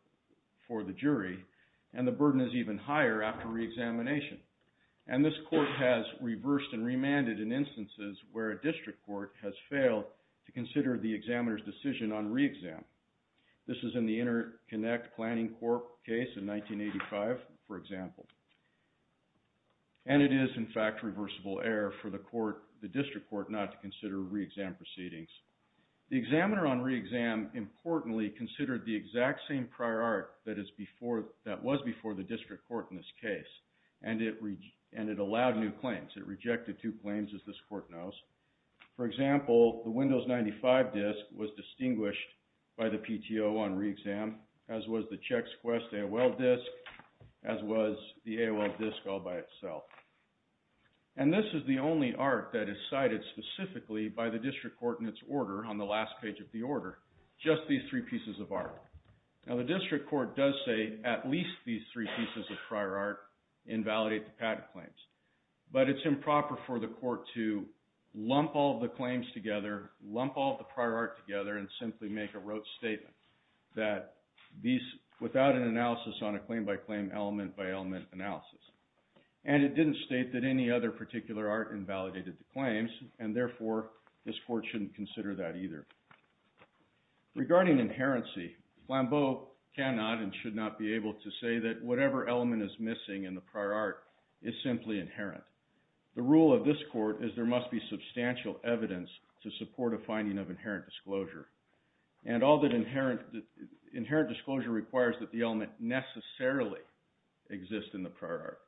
v. Flambeau, Inc. v. Flambeau, Inc. v. Flambeau, Inc. v. Flambeau, Inc. v. Flambeau, Inc. v. Flambeau, Inc. v. Flambeau, Inc. v. Flambeau, Inc. v. Flambeau, Inc. v. Flambeau, Inc. v. Flambeau, Inc. And this is the only art that is cited specifically by the district court in its order on the last page of the order, just these three pieces of art. Now the district court does say at least these three pieces of prior art invalidate the patent claims. But it's improper for the court to lump all the claims together, lump all the prior art together, and simply make a rote statement that these, without an analysis on a claim-by-claim, element-by-element analysis. And it didn't state that any other particular art invalidated the claims, and therefore this court shouldn't consider that either. Regarding inherency, Flambeau cannot and should not be able to say that whatever element is missing in the prior art is simply inherent. The rule of this court is there must be substantial evidence to support a finding of inherent disclosure. And all that inherent disclosure requires that the element necessarily exist in the prior art.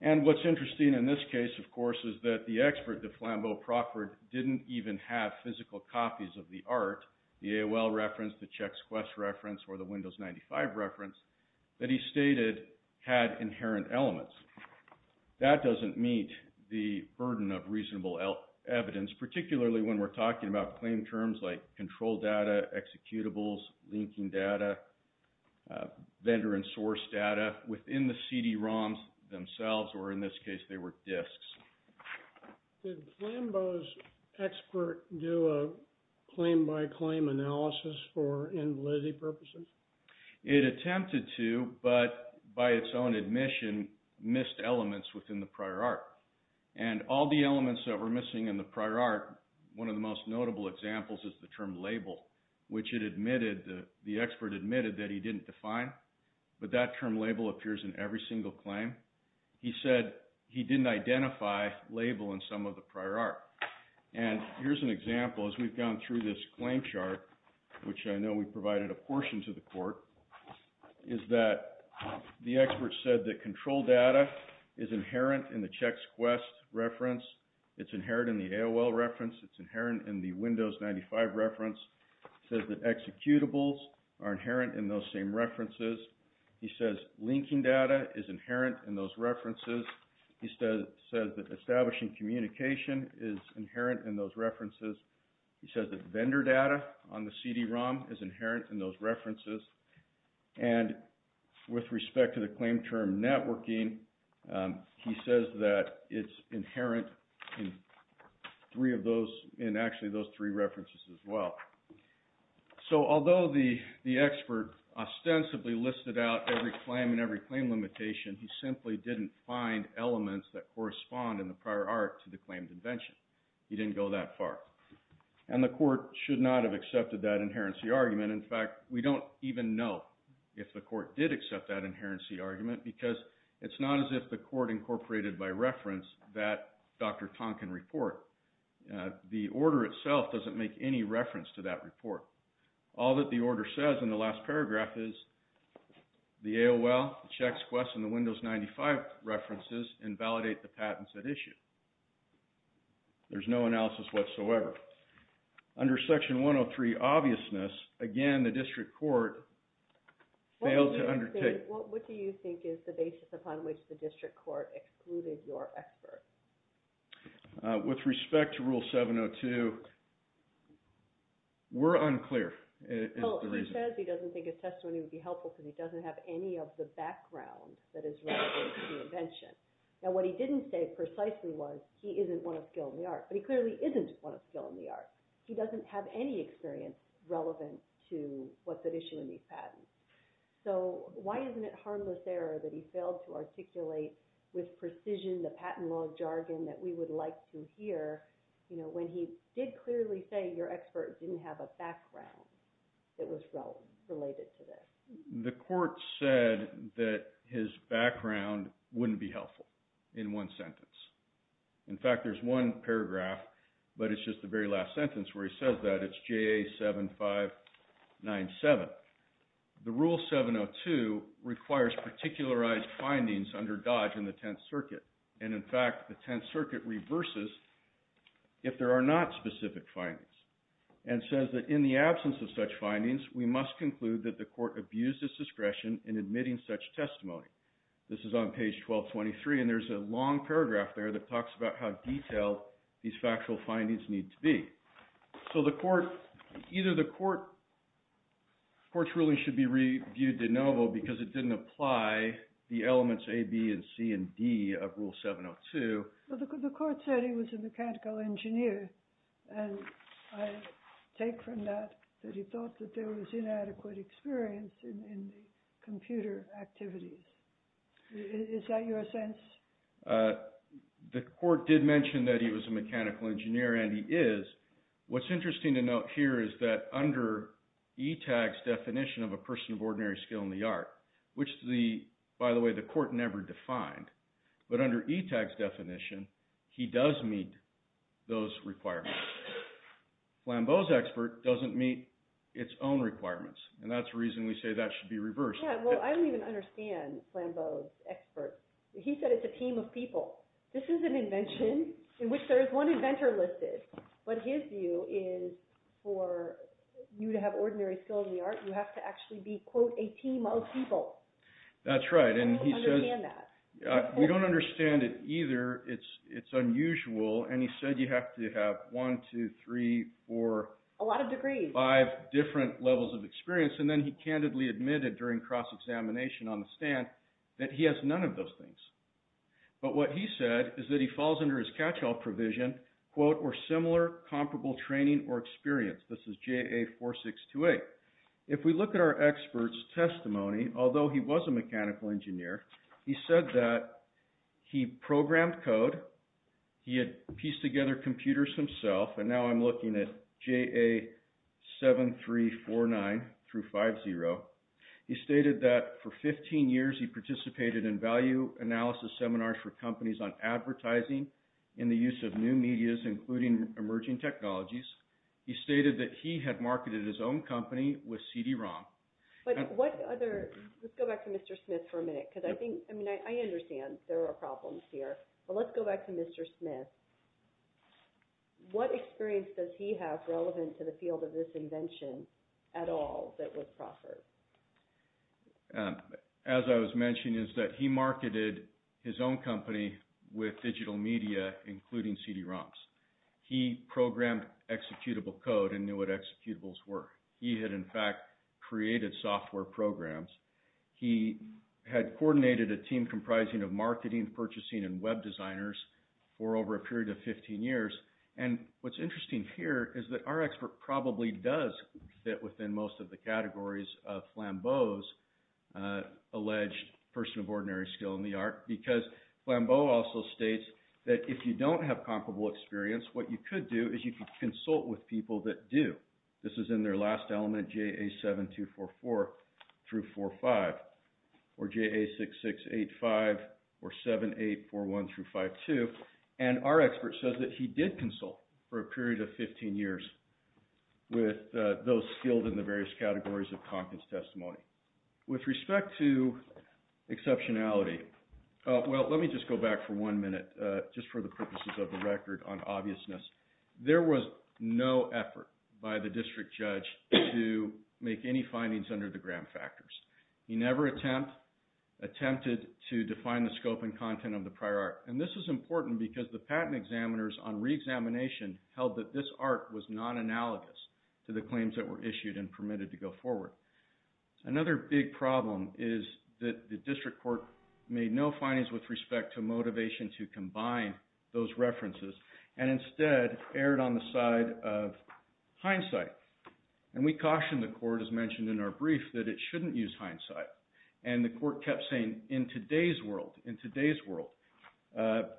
And what's interesting in this case, of course, is that the expert that Flambeau proffered didn't even have physical copies of the art, the AOL reference, the ChexQuest reference, or the Windows 95 reference that he stated had inherent elements. That doesn't meet the burden of reasonable evidence, particularly when we're talking about claim terms like control data, executables, linking data, vendor and source data within the CD-ROMs themselves, or in this case they were disks. Did Flambeau's expert do a claim-by-claim analysis for invalidity purposes? It attempted to, but by its own admission, missed elements within the prior art. And all the elements that were missing in the prior art, one of the most notable examples is the term label, which the expert admitted that he didn't define, but that term label appears in every single claim. He said he didn't identify label in some of the prior art. And here's an example as we've gone through this claim chart, which I know we provided a portion to the court, is that the expert said that control data is inherent in the ChexQuest reference, it's inherent in the AOL reference, it's inherent in the Windows 95 reference. He says that executables are inherent in those same references. He says linking data is inherent in those references. He says that establishing communication is inherent in those references. He says that vendor data on the CD-ROM is inherent in those references. And with respect to the claim term networking, he says that it's inherent in three of those, in actually those three references as well. So although the expert ostensibly listed out every claim and every claim limitation, he simply didn't find elements that correspond in the prior art to the claimed invention. He didn't go that far. And the court should not have accepted that inherency argument. In fact, we don't even know if the court did accept that inherency argument, because it's not as if the court incorporated by reference that Dr. Tonkin report. The order itself doesn't make any reference to that report. All that the order says in the last paragraph is, the AOL, ChexQuest, and the Windows 95 references invalidate the patents that issue. There's no analysis whatsoever. Under Section 103 obviousness, again the district court failed to undertake. What do you think is the basis upon which the district court excluded your expert? With respect to Rule 702, we're unclear is the reason. He says he doesn't think his testimony would be helpful because he doesn't have any of the background that is relevant to the invention. Now what he didn't say precisely was, he isn't one of skill in the art. But he clearly isn't one of skill in the art. He doesn't have any experience relevant to what's at issue in these patents. So why isn't it harmless error that he failed to articulate with precision the patent law jargon that we would like to hear when he did clearly say your expert didn't have a background that was related to this? The court said that his background wouldn't be helpful in one sentence. In fact, there's one paragraph, but it's just the very last sentence where he says that. It's JA 7597. The Rule 702 requires particularized findings under Dodge and the Tenth Circuit. And in fact, the Tenth Circuit reverses if there are not specific findings and says that in the absence of such findings, we must conclude that the court abused its discretion in admitting such testimony. This is on page 1223, and there's a long paragraph there that talks about how detailed these factual findings need to be. So either the court's ruling should be reviewed de novo because it didn't apply the elements A, B, C, and D of Rule 702. The court said he was a mechanical engineer, and I take from that that he thought that there was inadequate experience in the computer activities. Is that your sense? The court did mention that he was a mechanical engineer, and he is. What's interesting to note here is that under ETAG's definition of a person of ordinary skill in the art, which, by the way, the court never defined, but under ETAG's definition, he does meet those requirements. Flambeau's expert doesn't meet its own requirements, and that's the reason we say that should be reversed. Yeah, well, I don't even understand Flambeau's expert. He said it's a team of people. This is an invention in which there is one inventor listed, but his view is for you to have ordinary skill in the art, you have to actually be, quote, a team of people. That's right, and he says... I don't understand that. We don't understand it either. It's unusual, and he said you have to have one, two, three, four... A lot of degrees. ...five different levels of experience, and then he candidly admitted during cross-examination on the stand that he has none of those things, but what he said is that he falls under his catch-all provision, quote, or similar comparable training or experience. This is JA4628. If we look at our expert's testimony, although he was a mechanical engineer, he said that he programmed code. He had pieced together computers himself, and now I'm looking at JA7349 through 50. He stated that for 15 years, he participated in value analysis seminars for companies on advertising in the use of new medias, including emerging technologies. He stated that he had marketed his own company with CD-ROM. But what other... Let's go back to Mr. Smith for a minute, because I think... I mean, I understand there are problems here, but let's go back to Mr. Smith. What experience does he have relevant to the field of this invention at all that was proffered? As I was mentioning, is that he marketed his own company with digital media, including CD-ROMs. He programmed executable code and knew what executables were. He had, in fact, created software programs. He had coordinated a team comprising of marketing, purchasing, and web designers for over a period of 15 years. And what's interesting here is that our expert probably does fit within most of the categories of Flambeau's alleged person of ordinary skill in the art, because Flambeau also states that if you don't have comparable experience, what you could do is you could consult with people that do. This is in their last element, JA7244 through 45, or JA6685 or 7841 through 52. And our expert says that he did consult for a period of 15 years with those skilled in the various categories of Conkins testimony. With respect to exceptionality, well, let me just go back for one minute, just for the purposes of the record on obviousness. There was no effort by the district judge to make any findings under the gram factors. He never attempted to define the scope and content of the prior art. And this is important because the patent examiners on reexamination held that this art was non-analogous to the claims that were issued and permitted to go forward. Another big problem is that the district court made no findings with respect to motivation to combine those references, and instead erred on the side of hindsight. And we cautioned the court, as mentioned in our brief, that it shouldn't use hindsight. And the court kept saying, in today's world, and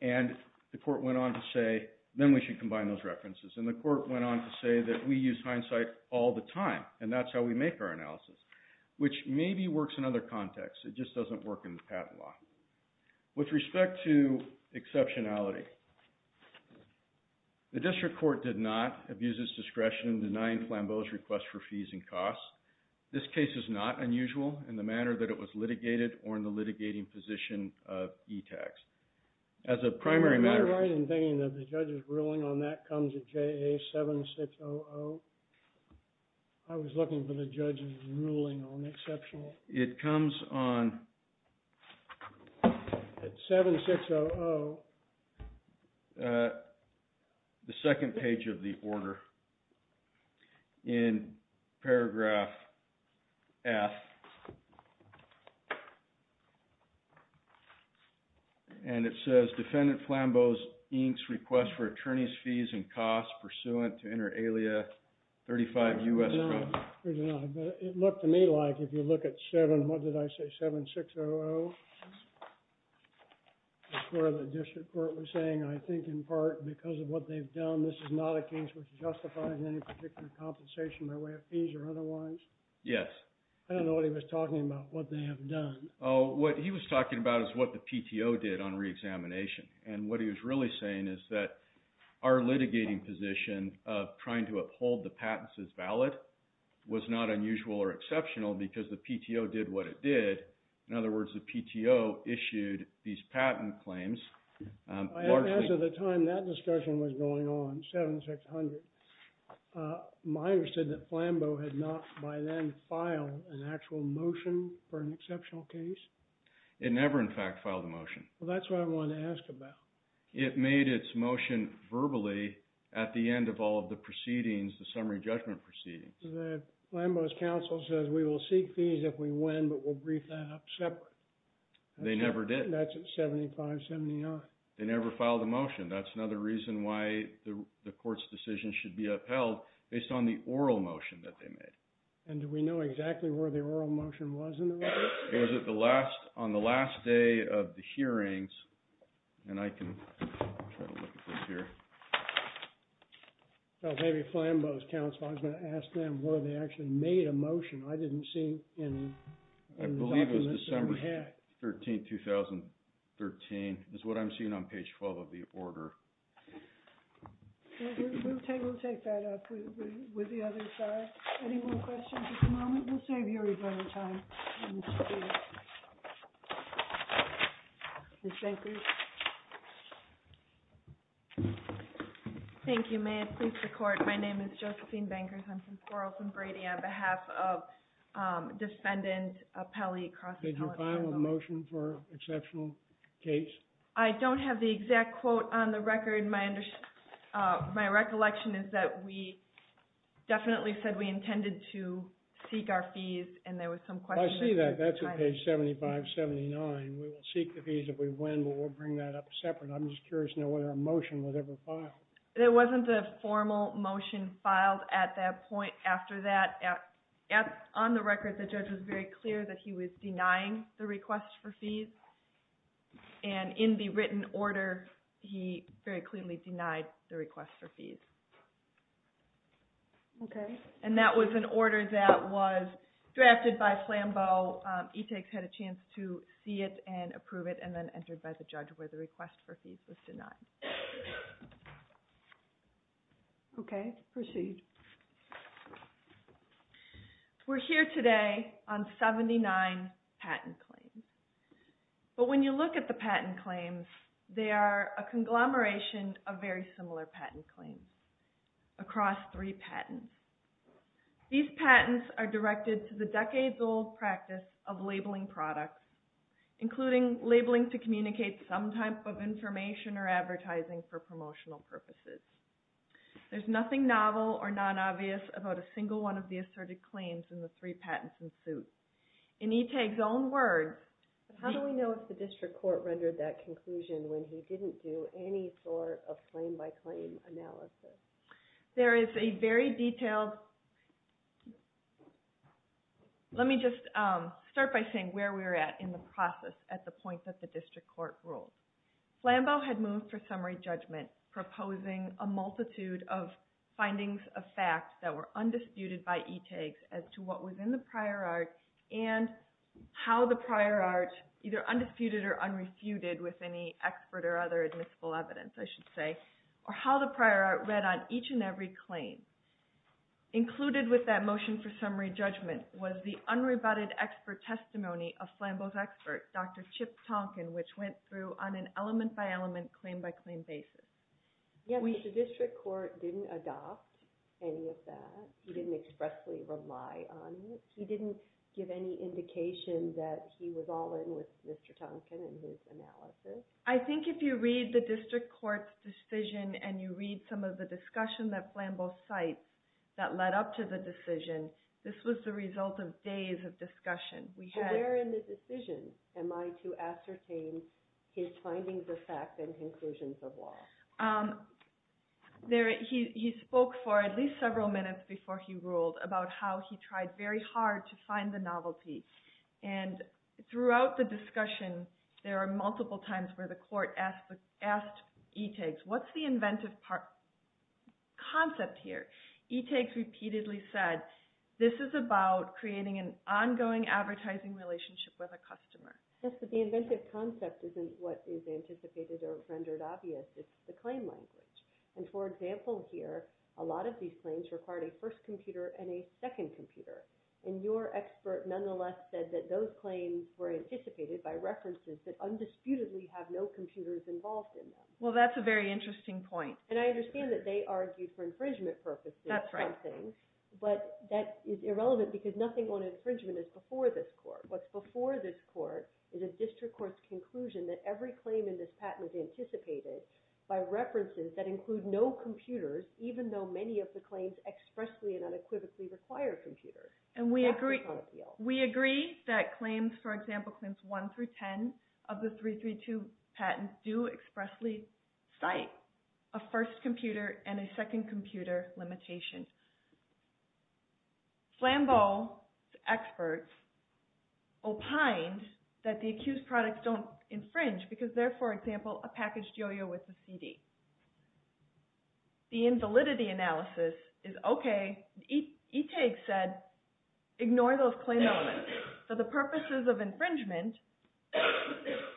the court went on to say, then we should combine those references. And the court went on to say that we use hindsight all the time, and that's how we make our analysis, which maybe works in other contexts. It just doesn't work in the patent law. With respect to exceptionality, the district court did not abuse its discretion in denying Flambeau's request for fees and costs. This case is not unusual in the manner that it was litigated or in the litigating position of ETACs. As a primary matter... Am I right in thinking that the judge's ruling on that comes at JA 7600? I was looking for the judge's ruling on exceptional... It comes on... At 7600... And it says, Defendant Flambeau inks request for attorney's fees and costs pursuant to inter alia 35 U.S... It looked to me like, if you look at 7, what did I say, 7600? That's where the district court was saying, I think in part because of what they've done, this is not a case which justifies any particular compensation by way of fees or otherwise. Yes. I don't know what he was talking about, what they have done. What he was talking about is what the PTO did on reexamination. And what he was really saying is that our litigating position of trying to uphold the patents as valid was not unusual or exceptional because the PTO did what it did. In other words, the PTO issued these patent claims largely... As of the time that discussion was going on, 7600, miners said that Flambeau had not by then filed an actual motion for an exceptional case. It never in fact filed a motion. That's what I want to ask about. It made its motion verbally at the end of all of the proceedings, the summary judgment proceedings. Flambeau's counsel says we will seek fees if we win, but we'll brief that up separate. They never did. That's at 7579. They never filed a motion. That's another reason why the court's decision should be upheld based on the oral motion that they made. And do we know exactly where the oral motion was in the record? It was on the last day of the hearings. And I can try to look at this here. Maybe Flambeau's counsel, I was going to ask them where they actually made a motion. I didn't see any. I believe it was December 13, 2013. It's what I'm seeing on page 12 of the order. We'll take that up with the other side. Any more questions at the moment? We'll save you a little time. Ms. Bankers. Thank you. May it please the court. My name is Josephine Bankers. I'm from Quarles and Brady on behalf of defendant Pelley. Did you file a motion for exceptional case? I don't have the exact quote on the record. My recollection is that we definitely said we intended to seek our fees. And there was some questions. I see that. That's on page 7579. We will seek the fees if we win, but we'll bring that up separate. I'm just curious to know whether a motion was ever filed. There wasn't a formal motion filed at that point after that. On the record, the judge was very clear that he was denying the request for fees. And in the written order, he very clearly denied the request for fees. OK. And that was an order that was drafted by Flambeau. ETAGS had a chance to see it and approve it, and then entered by the judge where the request for fees was denied. OK. Proceed. We're here today on 79 patent claims. But when you look at the patent claims, they are a conglomeration of very similar patent claims across three patents. These patents are directed to the decades-old practice of labeling products, including labeling to communicate some type of information or advertising for promotional purposes. There's nothing novel or non-obvious about a single one of the asserted claims in the three patents in suit. In ETAGS' own words, there is a very detailed Let me just start by saying where we were at in the process at the point that the district court ruled. Flambeau had moved for summary judgment, proposing a multitude of findings of fact that were undisputed by ETAGS as to what was in the prior art and how the prior art, either undisputed or unrefuted with any expert or other admissible evidence, I should say, or how the prior art read on each and every claim. Included with that motion for summary judgment was the unrebutted expert testimony of Flambeau's expert, Dr. Chip Tonkin, which went through on an element-by-element, claim-by-claim basis. The district court didn't adopt any of that. He didn't expressly rely on it. He didn't give any indication that he was all in with Mr. Tonkin and his analysis. I think if you read the district court's decision and you read some of the discussion that Flambeau cites that led up to the decision, this was the result of days of discussion. Where in the decision am I to ascertain his findings of fact and conclusions of law? He spoke for at least several minutes before he ruled about how he tried very hard to find the novelty. And throughout the discussion, there are multiple times where the court asked ETAGS, what's the inventive concept here? ETAGS repeatedly said, this is about creating an ongoing advertising relationship with a customer. Yes, but the inventive concept isn't what is anticipated or rendered obvious. It's the claim language. And for example here, a lot of these claims required a first computer and a second computer. And your expert nonetheless said that those claims were anticipated by references that undisputedly have no computers involved in them. Well, that's a very interesting point. And I understand that they argued for infringement purposes. That's right. But that is irrelevant because nothing on infringement is before this court. What's before this court is a district court's conclusion that every claim in this patent is anticipated by references that include no computers, even though many of the claims expressly and unequivocally require computers. And we agree that claims, for example, claims 1 through 10 of the 332 patents do expressly cite a first computer and a second computer limitation. Flambeau's experts opined that the accused products don't infringe because they're, for example, a packaged yo-yo with a CD. The invalidity analysis is okay. ETAG said ignore those claim elements. For the purposes of infringement,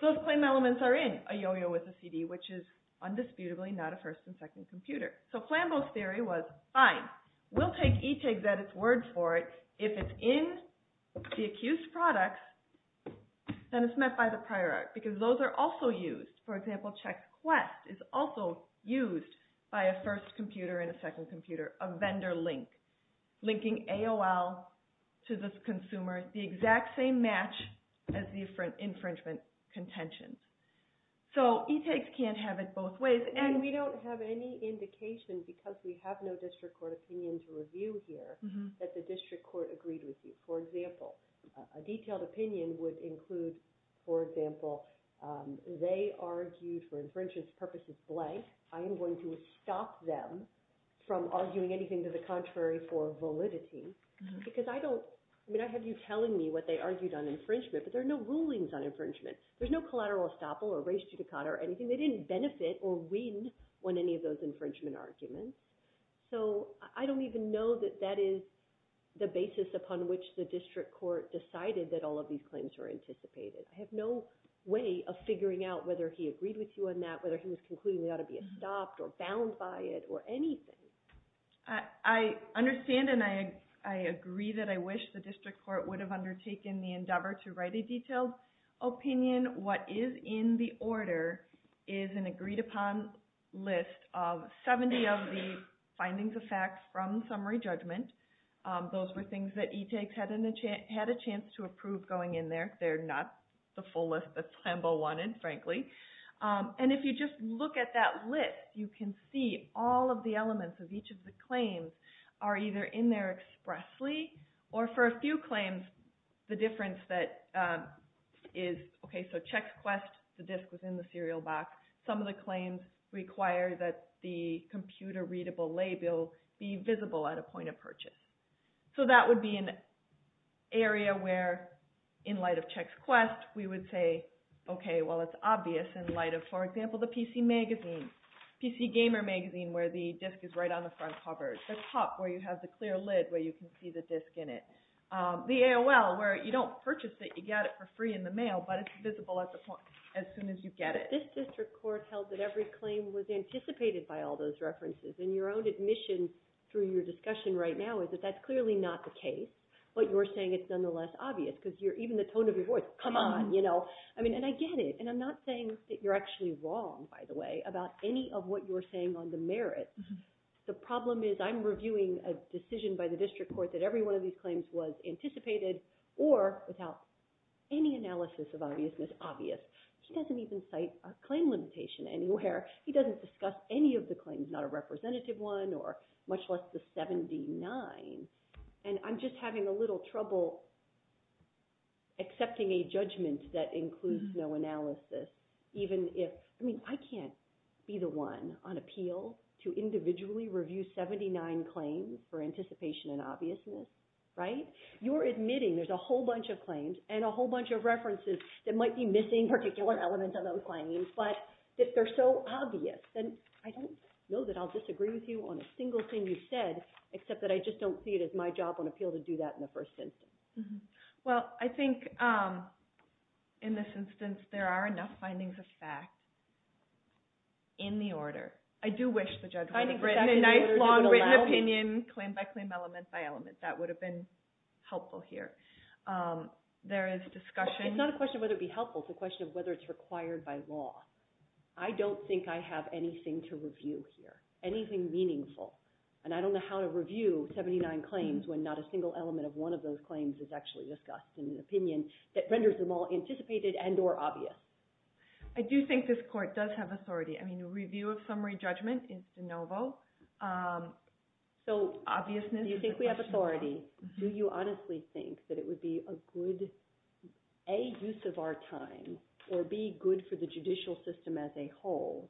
those claim elements are in a yo-yo with a CD, which is undisputably not a first and second computer. So Flambeau's theory was fine. We'll take ETAG's at its word for it. If it's in the accused products, then it's met by the prior art because those are also used. For example, Check Quest is also used by a first computer and a second computer, a vendor link, linking AOL to this consumer, the exact same match as the infringement contentions. So ETAG can't have it both ways. And we don't have any indication because we have no district court opinion to review here that the district court agreed with you. For example, a detailed opinion would include, for example, they argued for infringement purposes blank. I am going to stop them from arguing anything to the contrary for validity because I don't, I mean, I have you telling me what they argued on infringement, but there are no rulings on infringement. There's no collateral estoppel or res judicata or anything. They didn't benefit or win on any of those infringement arguments. So I don't even know that that is the basis upon which the district court decided that all of these claims were anticipated. I have no way of figuring out whether he agreed with you on that, whether he was concluding they ought to be stopped or bound by it or anything. I understand and I agree that I wish the district court would have undertaken the endeavor to write a detailed opinion. What is in the order is an agreed upon list of 70 of the findings of facts from summary judgment. Those were things that ETAG had a chance to approve going in there. They're not the full list that Sambo wanted, frankly. And if you just look at that list, you can see all of the elements of each of the claims are either in there expressly or for a few claims, the difference that is, okay, so Checks Quest, the disc was in the serial back. Some of the claims require that the computer readable label be visible at a point of purchase. So that would be an area where in light of Checks Quest, we would say, okay, well, it's obvious in light of, for example, the PC Magazine, PC Gamer Magazine where the disc is right on the front cover. The top where you have the clear lid where you can see the disc in it. The AOL where you don't purchase it, you get it for free in the mail, but it's visible at the point as soon as you get it. This district court held that every claim was anticipated by all those references, and your own admission through your discussion right now is that that's clearly not the case. What you're saying is nonetheless obvious because even the tone of your voice, come on, you know. I mean, and I get it, and I'm not saying that you're actually wrong, by the way, about any of what you're saying on the merits. The problem is I'm reviewing a decision by the district court that every one of these claims was anticipated or without any analysis of obviousness obvious. He doesn't even cite a claim limitation anywhere. He doesn't discuss any of the claims, not a representative one or much less the 79, and I'm just having a little trouble accepting a judgment that includes no analysis, even if, I mean, I can't be the one on appeal to individually review 79 claims for anticipation and obviousness, right? You're admitting there's a whole bunch of claims and a whole bunch of references that might be missing particular elements of those claims, but if they're so obvious, then I don't know that I'll disagree with you on a single thing you've said except that I just don't see it as my job on appeal to do that in the first instance. Well, I think in this instance there are enough findings of fact in the order. I do wish the judge would have written a nice long written opinion claim by claim, element by element. That would have been helpful here. There is discussion. It's not a question of whether it would be helpful. It's a question of whether it's required by law. I don't think I have anything to review here, anything meaningful, and I don't know how to review 79 claims when not a single element of one of those claims is actually discussed in an opinion that renders them all anticipated and or obvious. I do think this court does have authority. I mean, a review of summary judgment is de novo. So, do you think we have authority? Do you honestly think that it would be a good, A, use of our time, or B, good for the judicial system as a whole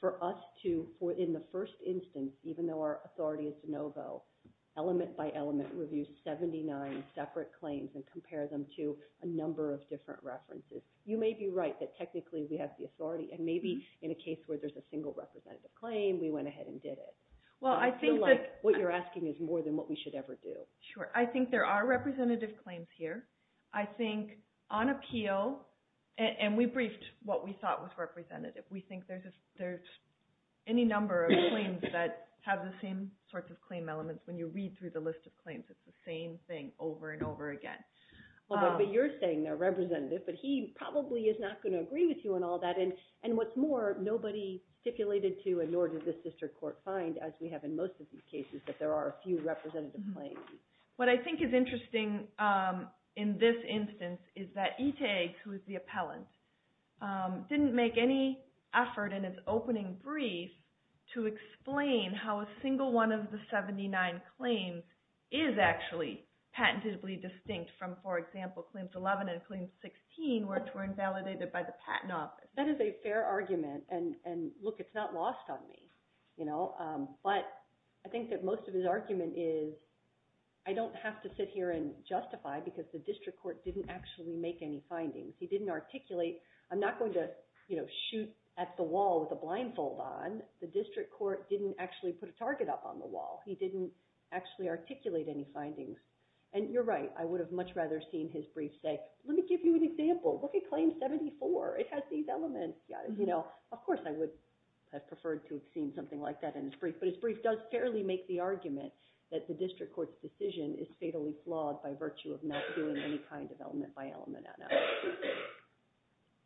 for us to, in the first instance, even though our authority is de novo, element by element review 79 separate claims and compare them to a number of different references. You may be right that technically we have the authority, and maybe in a case where there's a single representative claim, we went ahead and did it. I feel like what you're asking is more than what we should ever do. Sure. I think there are representative claims here. I think on appeal, and we briefed what we thought was representative, we think there's any number of claims that have the same sorts of claim elements when you read through the list of claims. It's the same thing over and over again. But you're saying they're representative, but he probably is not going to agree with you on all that. And what's more, nobody stipulated to, and nor did the sister court find, as we have in most of these cases, that there are a few representative claims. What I think is interesting in this instance is that ETAG, who is the appellant, didn't make any effort in its opening brief to explain how a single one of the 79 claims is actually patentably distinct from, for example, claims 11 and claims 16, which were invalidated by the Patent Office. That is a fair argument. And look, it's not lost on me. But I think that most of his argument is, I don't have to sit here and justify because the district court didn't actually make any findings. He didn't articulate, I'm not going to shoot at the wall with a blindfold on. The district court didn't actually put a target up on the wall. He didn't actually articulate any findings. And you're right. I would have much rather seen his brief say, let me give you an example. Look at claim 74. It has these elements. Of course I would have preferred to have seen something like that in his brief. But his brief does fairly make the argument that the district court's decision is fatally flawed by virtue of not doing any kind of element-by-element analysis.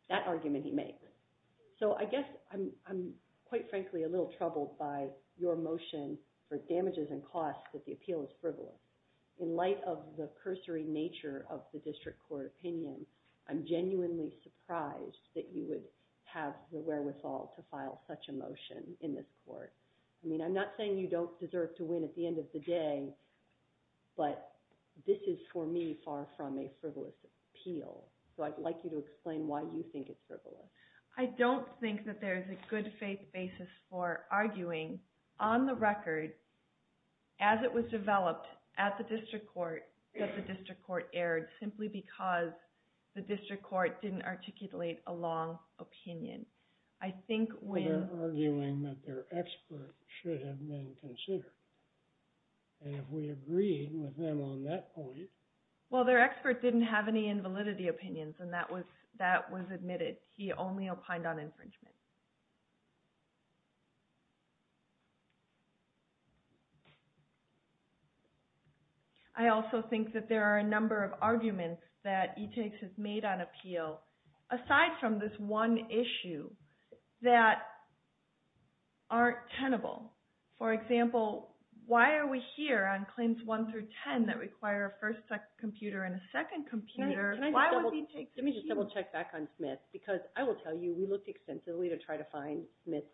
That argument he makes. So I guess I'm quite frankly a little troubled by your motion for damages and costs that the appeal is frivolous. In light of the cursory nature of the district court opinion, I'm genuinely surprised that you would have the wherewithal to file such a motion in this court. I mean, I'm not saying you don't deserve to win at the end of the day, but this is for me far from a frivolous appeal. So I'd like you to explain why you think it's frivolous. I don't think that there's a good faith basis for arguing on the record as it was developed at the district court that the district court erred simply because the district court didn't articulate a long opinion. I think when... They're arguing that their expert should have been considered. And if we agree with them on that point... Well, their expert didn't have any invalidity opinions, and that was admitted. He only opined on infringement. I also think that there are a number of arguments that e-takes has made on appeal aside from this one issue that aren't tenable. For example, why are we here on claims 1 through 10 that require a first computer and a second computer? Let me just double-check back on Smith, because I will tell you we looked extensively to try to find Smith's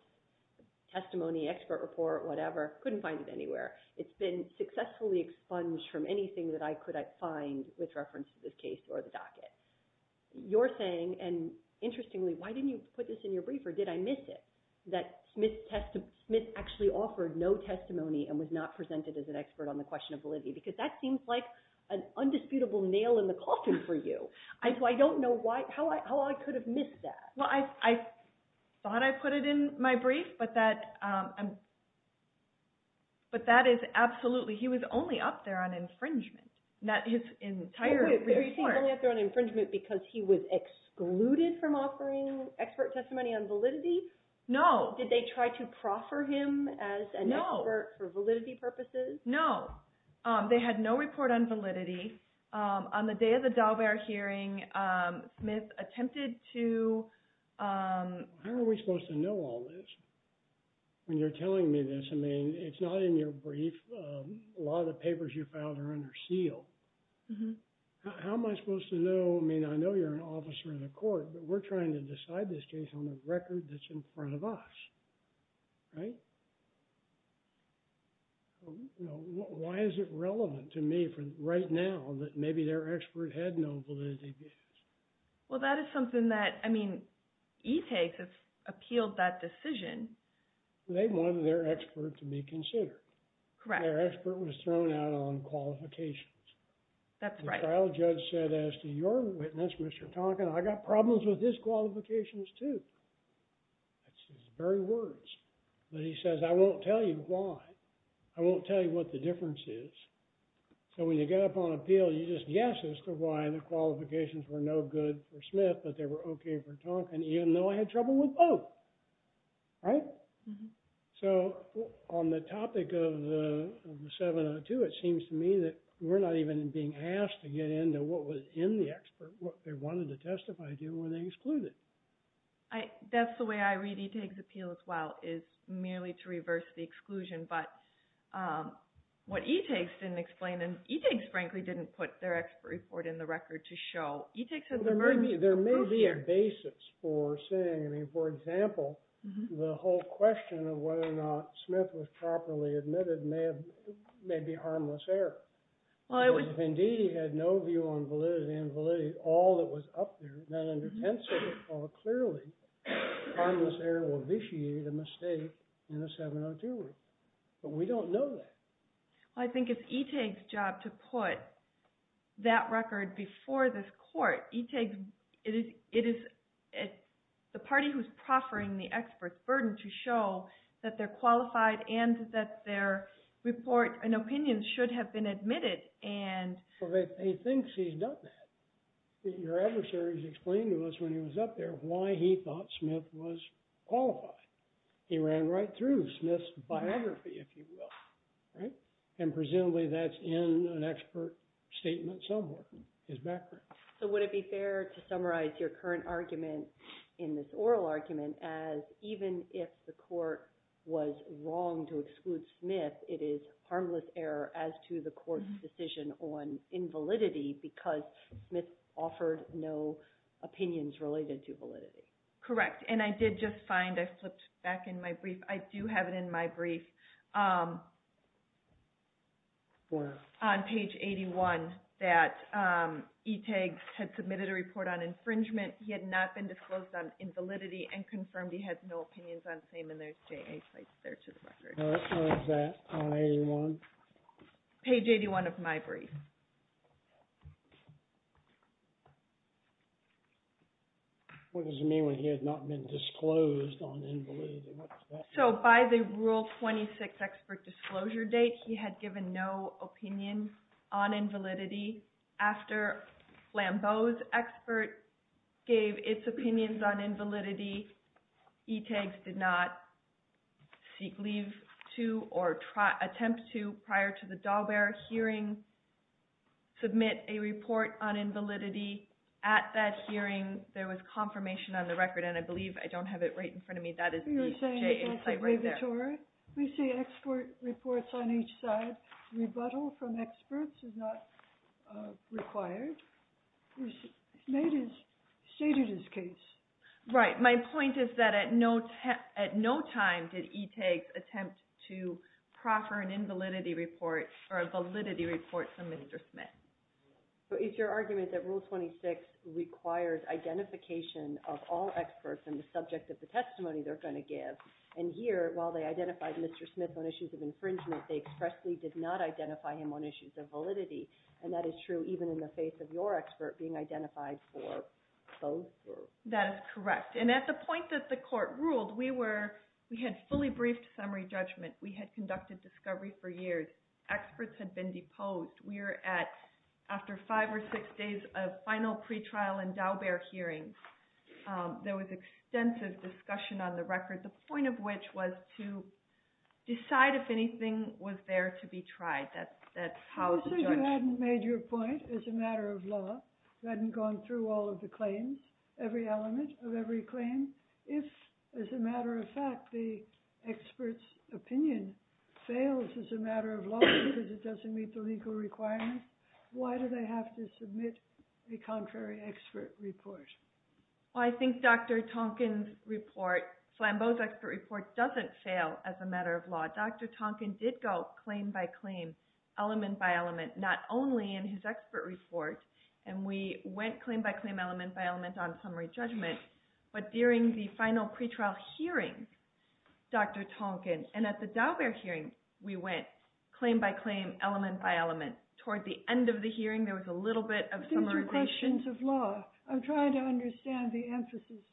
testimony, expert report, whatever. Couldn't find it anywhere. It's been successfully expunged from anything that I could find with reference to this case or the docket. You're saying, and interestingly, why didn't you put this in your brief, or did I miss it, that Smith actually offered no testimony and was not presented as an expert on the question of validity? Because that seems like an undisputable nail in the coffin for you. So I don't know how I could have missed that. Well, I thought I put it in my brief, but that is absolutely... He was only up there on infringement. His entire report... Wait, was he only up there on infringement because he was excluded from offering expert testimony on validity? No. Did they try to proffer him as an expert for validity purposes? No. They had no report on validity. On the day of the Daubert hearing, Smith attempted to... How are we supposed to know all this when you're telling me this? I mean, it's not in your brief. A lot of the papers you filed are under seal. How am I supposed to know? I mean, I know you're an officer in the court, but we're trying to decide this case on the record that's in front of us, right? Why is it relevant to me right now that maybe their expert had no validity? Well, that is something that... I mean, ETAG has appealed that decision. They wanted their expert to be considered. Correct. Their expert was thrown out on qualifications. That's right. The trial judge said, as to your witness, Mr. Tonkin, I got problems with his qualifications too. That's his very words. But he says, I won't tell you why. I won't tell you what the difference is. So when you get up on appeal, you just guess as to why the qualifications were no good for Smith, but they were okay for Tonkin, even though I had trouble with both. Right? So on the topic of the 702, it seems to me that we're not even being asked to get into what was in the expert, what they wanted to testify to, and when they excluded. That's the way I read ETAG's appeal as well, is merely to reverse the exclusion. But what ETAG didn't explain, and ETAG, frankly, didn't put their expert report in the record to show. ETAG said... There may be a basis for saying... I mean, for example, the whole question of whether or not Smith was properly admitted may be harmless error. If, indeed, he had no view on validity and validity, all that was up there, none under pencil, clearly, harmless error will vitiate a mistake in a 702 report. But we don't know that. Well, I think it's ETAG's job to put that record before this court. ETAG, it is the party who's proffering the expert's burden to show that they're qualified and that their report and opinions should have been admitted, and... Well, they think he's done that. Your adversaries explained to us when he was up there why he thought Smith was qualified. He ran right through Smith's biography, if you will, right? And presumably that's in an expert statement somewhere, his background. So would it be fair to summarize your current argument in this oral argument as even if the court was wrong to exclude Smith, it is harmless error as to the court's decision on invalidity because Smith offered no opinions related to validity? Correct, and I did just find, I flipped back in my brief, I do have it in my brief on page 81 that ETAG had submitted a report on infringement. He had not been disclosed on invalidity and confirmed he had no opinions on same and there's J.A. sites there to the record. Let's have that on 81. Page 81 of my brief. What does it mean when he had not been disclosed on invalidity? What does that mean? So by the Rule 26 expert disclosure date, he had given no opinion on invalidity. After Lambeau's expert gave its opinions on invalidity, ETAG did not seek leave to or attempt to prior to the Dahlberg hearing submit a report on invalidity. At that hearing, there was confirmation on the record, and I believe, I don't have it right in front of me, that is the J.A. site right there. We see expert reports on each side. Rebuttal from experts is not required. He stated his case. Right. My point is that at no time did ETAG attempt to proffer an invalidity report or a validity report from Mr. Smith. But it's your argument that Rule 26 requires identification of all experts and the subject of the testimony they're going to give. And here, while they identified Mr. Smith on issues of infringement, they expressly did not identify him on issues of validity. And that is true even in the face of your expert being identified for both. That is correct. And at the point that the court ruled, we had fully briefed summary judgment. We had conducted discovery for years. Experts had been deposed. We were at, after five or six days of final pretrial and Dahlberg hearings, there was extensive discussion on the record, the point of which was to decide if anything was there to be tried. That's how the judge – You said you hadn't made your point as a matter of law. You hadn't gone through all of the claims, every element of every claim. If, as a matter of fact, the expert's opinion fails as a matter of law because it doesn't meet the legal requirements, why do they have to submit a contrary expert report? Well, I think Dr. Tonkin's report, Flambeau's expert report, doesn't fail as a matter of law. Dr. Tonkin did go claim by claim, element by element, not only in his expert report, and we went claim by claim, element by element on summary judgment, but during the final pretrial hearing, Dr. Tonkin, and at the Dahlberg hearing, we went claim by claim, element by element. Toward the end of the hearing, there was a little bit of summarization. These are questions of law. I'm trying to understand the emphasis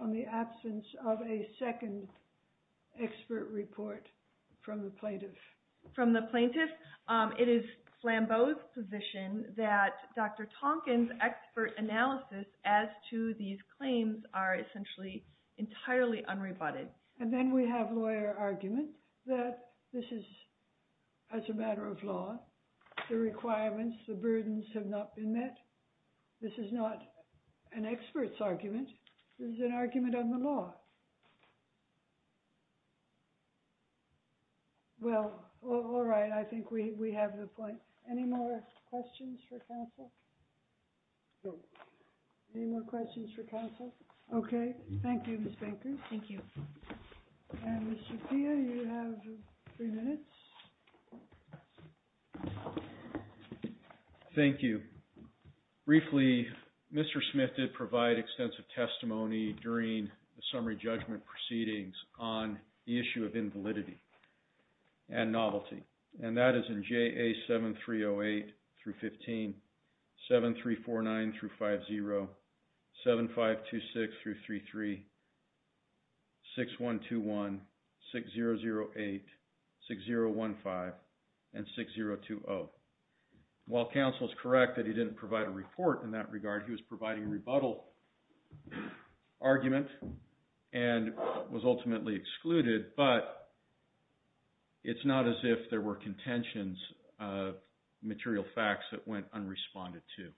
on the absence of a second expert report from the plaintiff. It is Flambeau's position that Dr. Tonkin's expert analysis as to these claims are essentially entirely unrebutted. And then we have lawyer argument that this is, as a matter of law, the requirements, the burdens have not been met. This is not an expert's argument. This is an argument on the law. Well, all right. I think we have the point. Any more questions for counsel? No. Any more questions for counsel? Okay. Thank you, Ms. Baker. Thank you. And, Mr. Pia, you have three minutes. Thank you. Briefly, Mr. Smith did provide extensive testimony during the summary judgment. Proceedings on the issue of invalidity and novelty. And that is in JA7308-15, 7349-50, 7526-33, 6121, 6008, 6015, and 6020. While counsel is correct that he didn't provide a report in that regard, he was providing a rebuttal argument and was ultimately excluded. But it's not as if there were contentions of material facts that went unresponded to.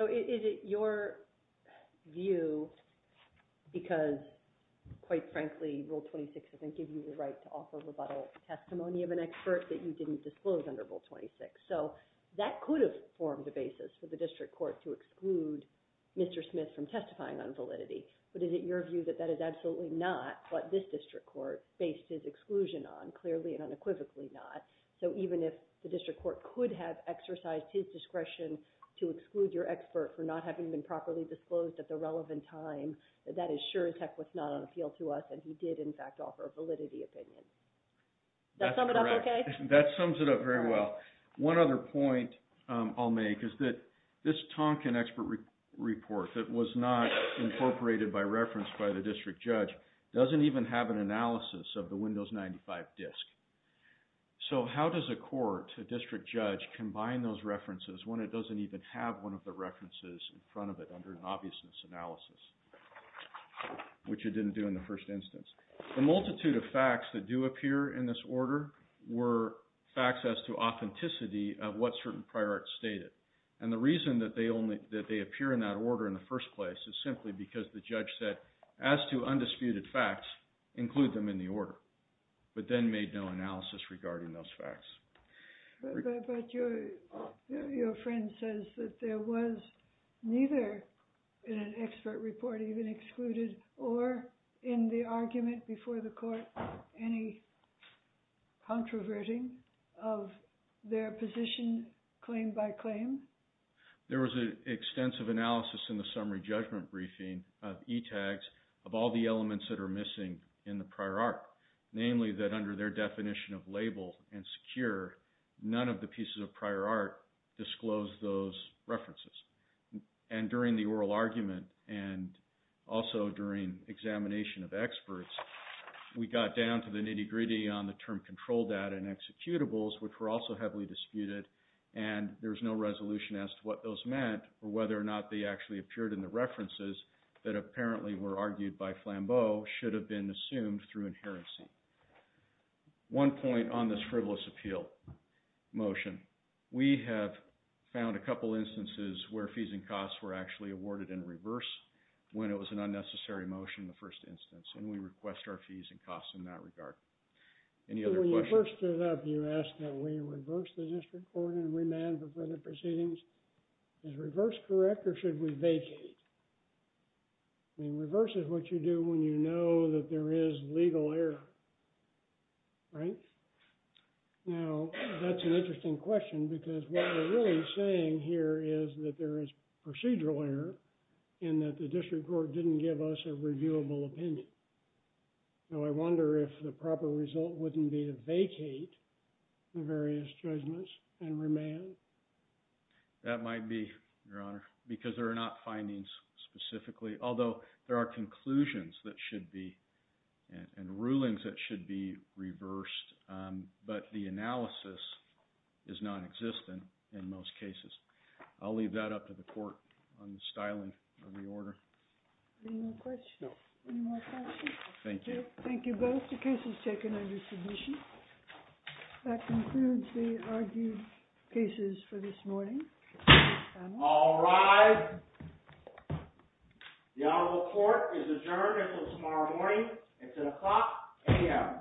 So is it your view because, quite frankly, Rule 26 doesn't give you the right to offer rebuttal testimony of an expert that you didn't disclose under Rule 26? So that could have formed the basis for the district court to exclude Mr. Smith from testifying on validity. But is it your view that that is absolutely not what this district court based his exclusion on, clearly and unequivocally not? So even if the district court could have exercised his discretion to exclude your expert for not having been properly disclosed at the relevant time, that is sure as heck was not on appeal to us. And he did, in fact, offer a validity opinion. Does that sum it up okay? That sums it up very well. One other point I'll make is that this Tonkin expert report that was not incorporated by reference by the district judge doesn't even have an analysis of the Windows 95 disk. So how does a court, a district judge, combine those references when it doesn't even have one of the references in front of it under an obviousness analysis, which it didn't do in the first instance? The multitude of facts that do appear in this order were facts as to authenticity of what certain prior arts stated. And the reason that they appear in that order in the first place is simply because the judge said, as to undisputed facts, include them in the order, but then made no analysis regarding those facts. But your friend says that there was neither in an expert report even excluded or in the argument before the court any controverting of their position claim by claim. There was an extensive analysis in the summary judgment briefing of ETags of all the elements that are missing in the prior art. Namely, that under their definition of label and secure, none of the pieces of prior art disclosed those references. And during the oral argument and also during examination of experts, we got down to the nitty-gritty on the term control data and executables, which were also heavily disputed. And there was no resolution as to what those meant or whether or not they actually appeared in the references that apparently were argued by Flambeau should have been assumed through inherency. One point on this frivolous appeal motion. We have found a couple instances where fees and costs were actually awarded in reverse when it was an unnecessary motion in the first instance, and we request our fees and costs in that regard. Any other questions? When you first stood up, you asked that we reverse the district court and remand for further proceedings. Is reverse correct or should we vacate? I mean, reverse is what you do when you know that there is legal error. Right? Now, that's an interesting question because what we're really saying here is that there is procedural error in that the district court didn't give us a reviewable opinion. So I wonder if the proper result wouldn't be to vacate the various judgments and remand. That might be, Your Honor, because there are not findings specifically, although there are conclusions that should be and rulings that should be reversed, but the analysis is nonexistent in most cases. I'll leave that up to the court on the styling of the order. Any more questions? No. Any more questions? Thank you. Thank you both. The case is taken under submission. That concludes the argued cases for this morning. All rise. The honorable court is adjourned until tomorrow morning. It's at o'clock a.m.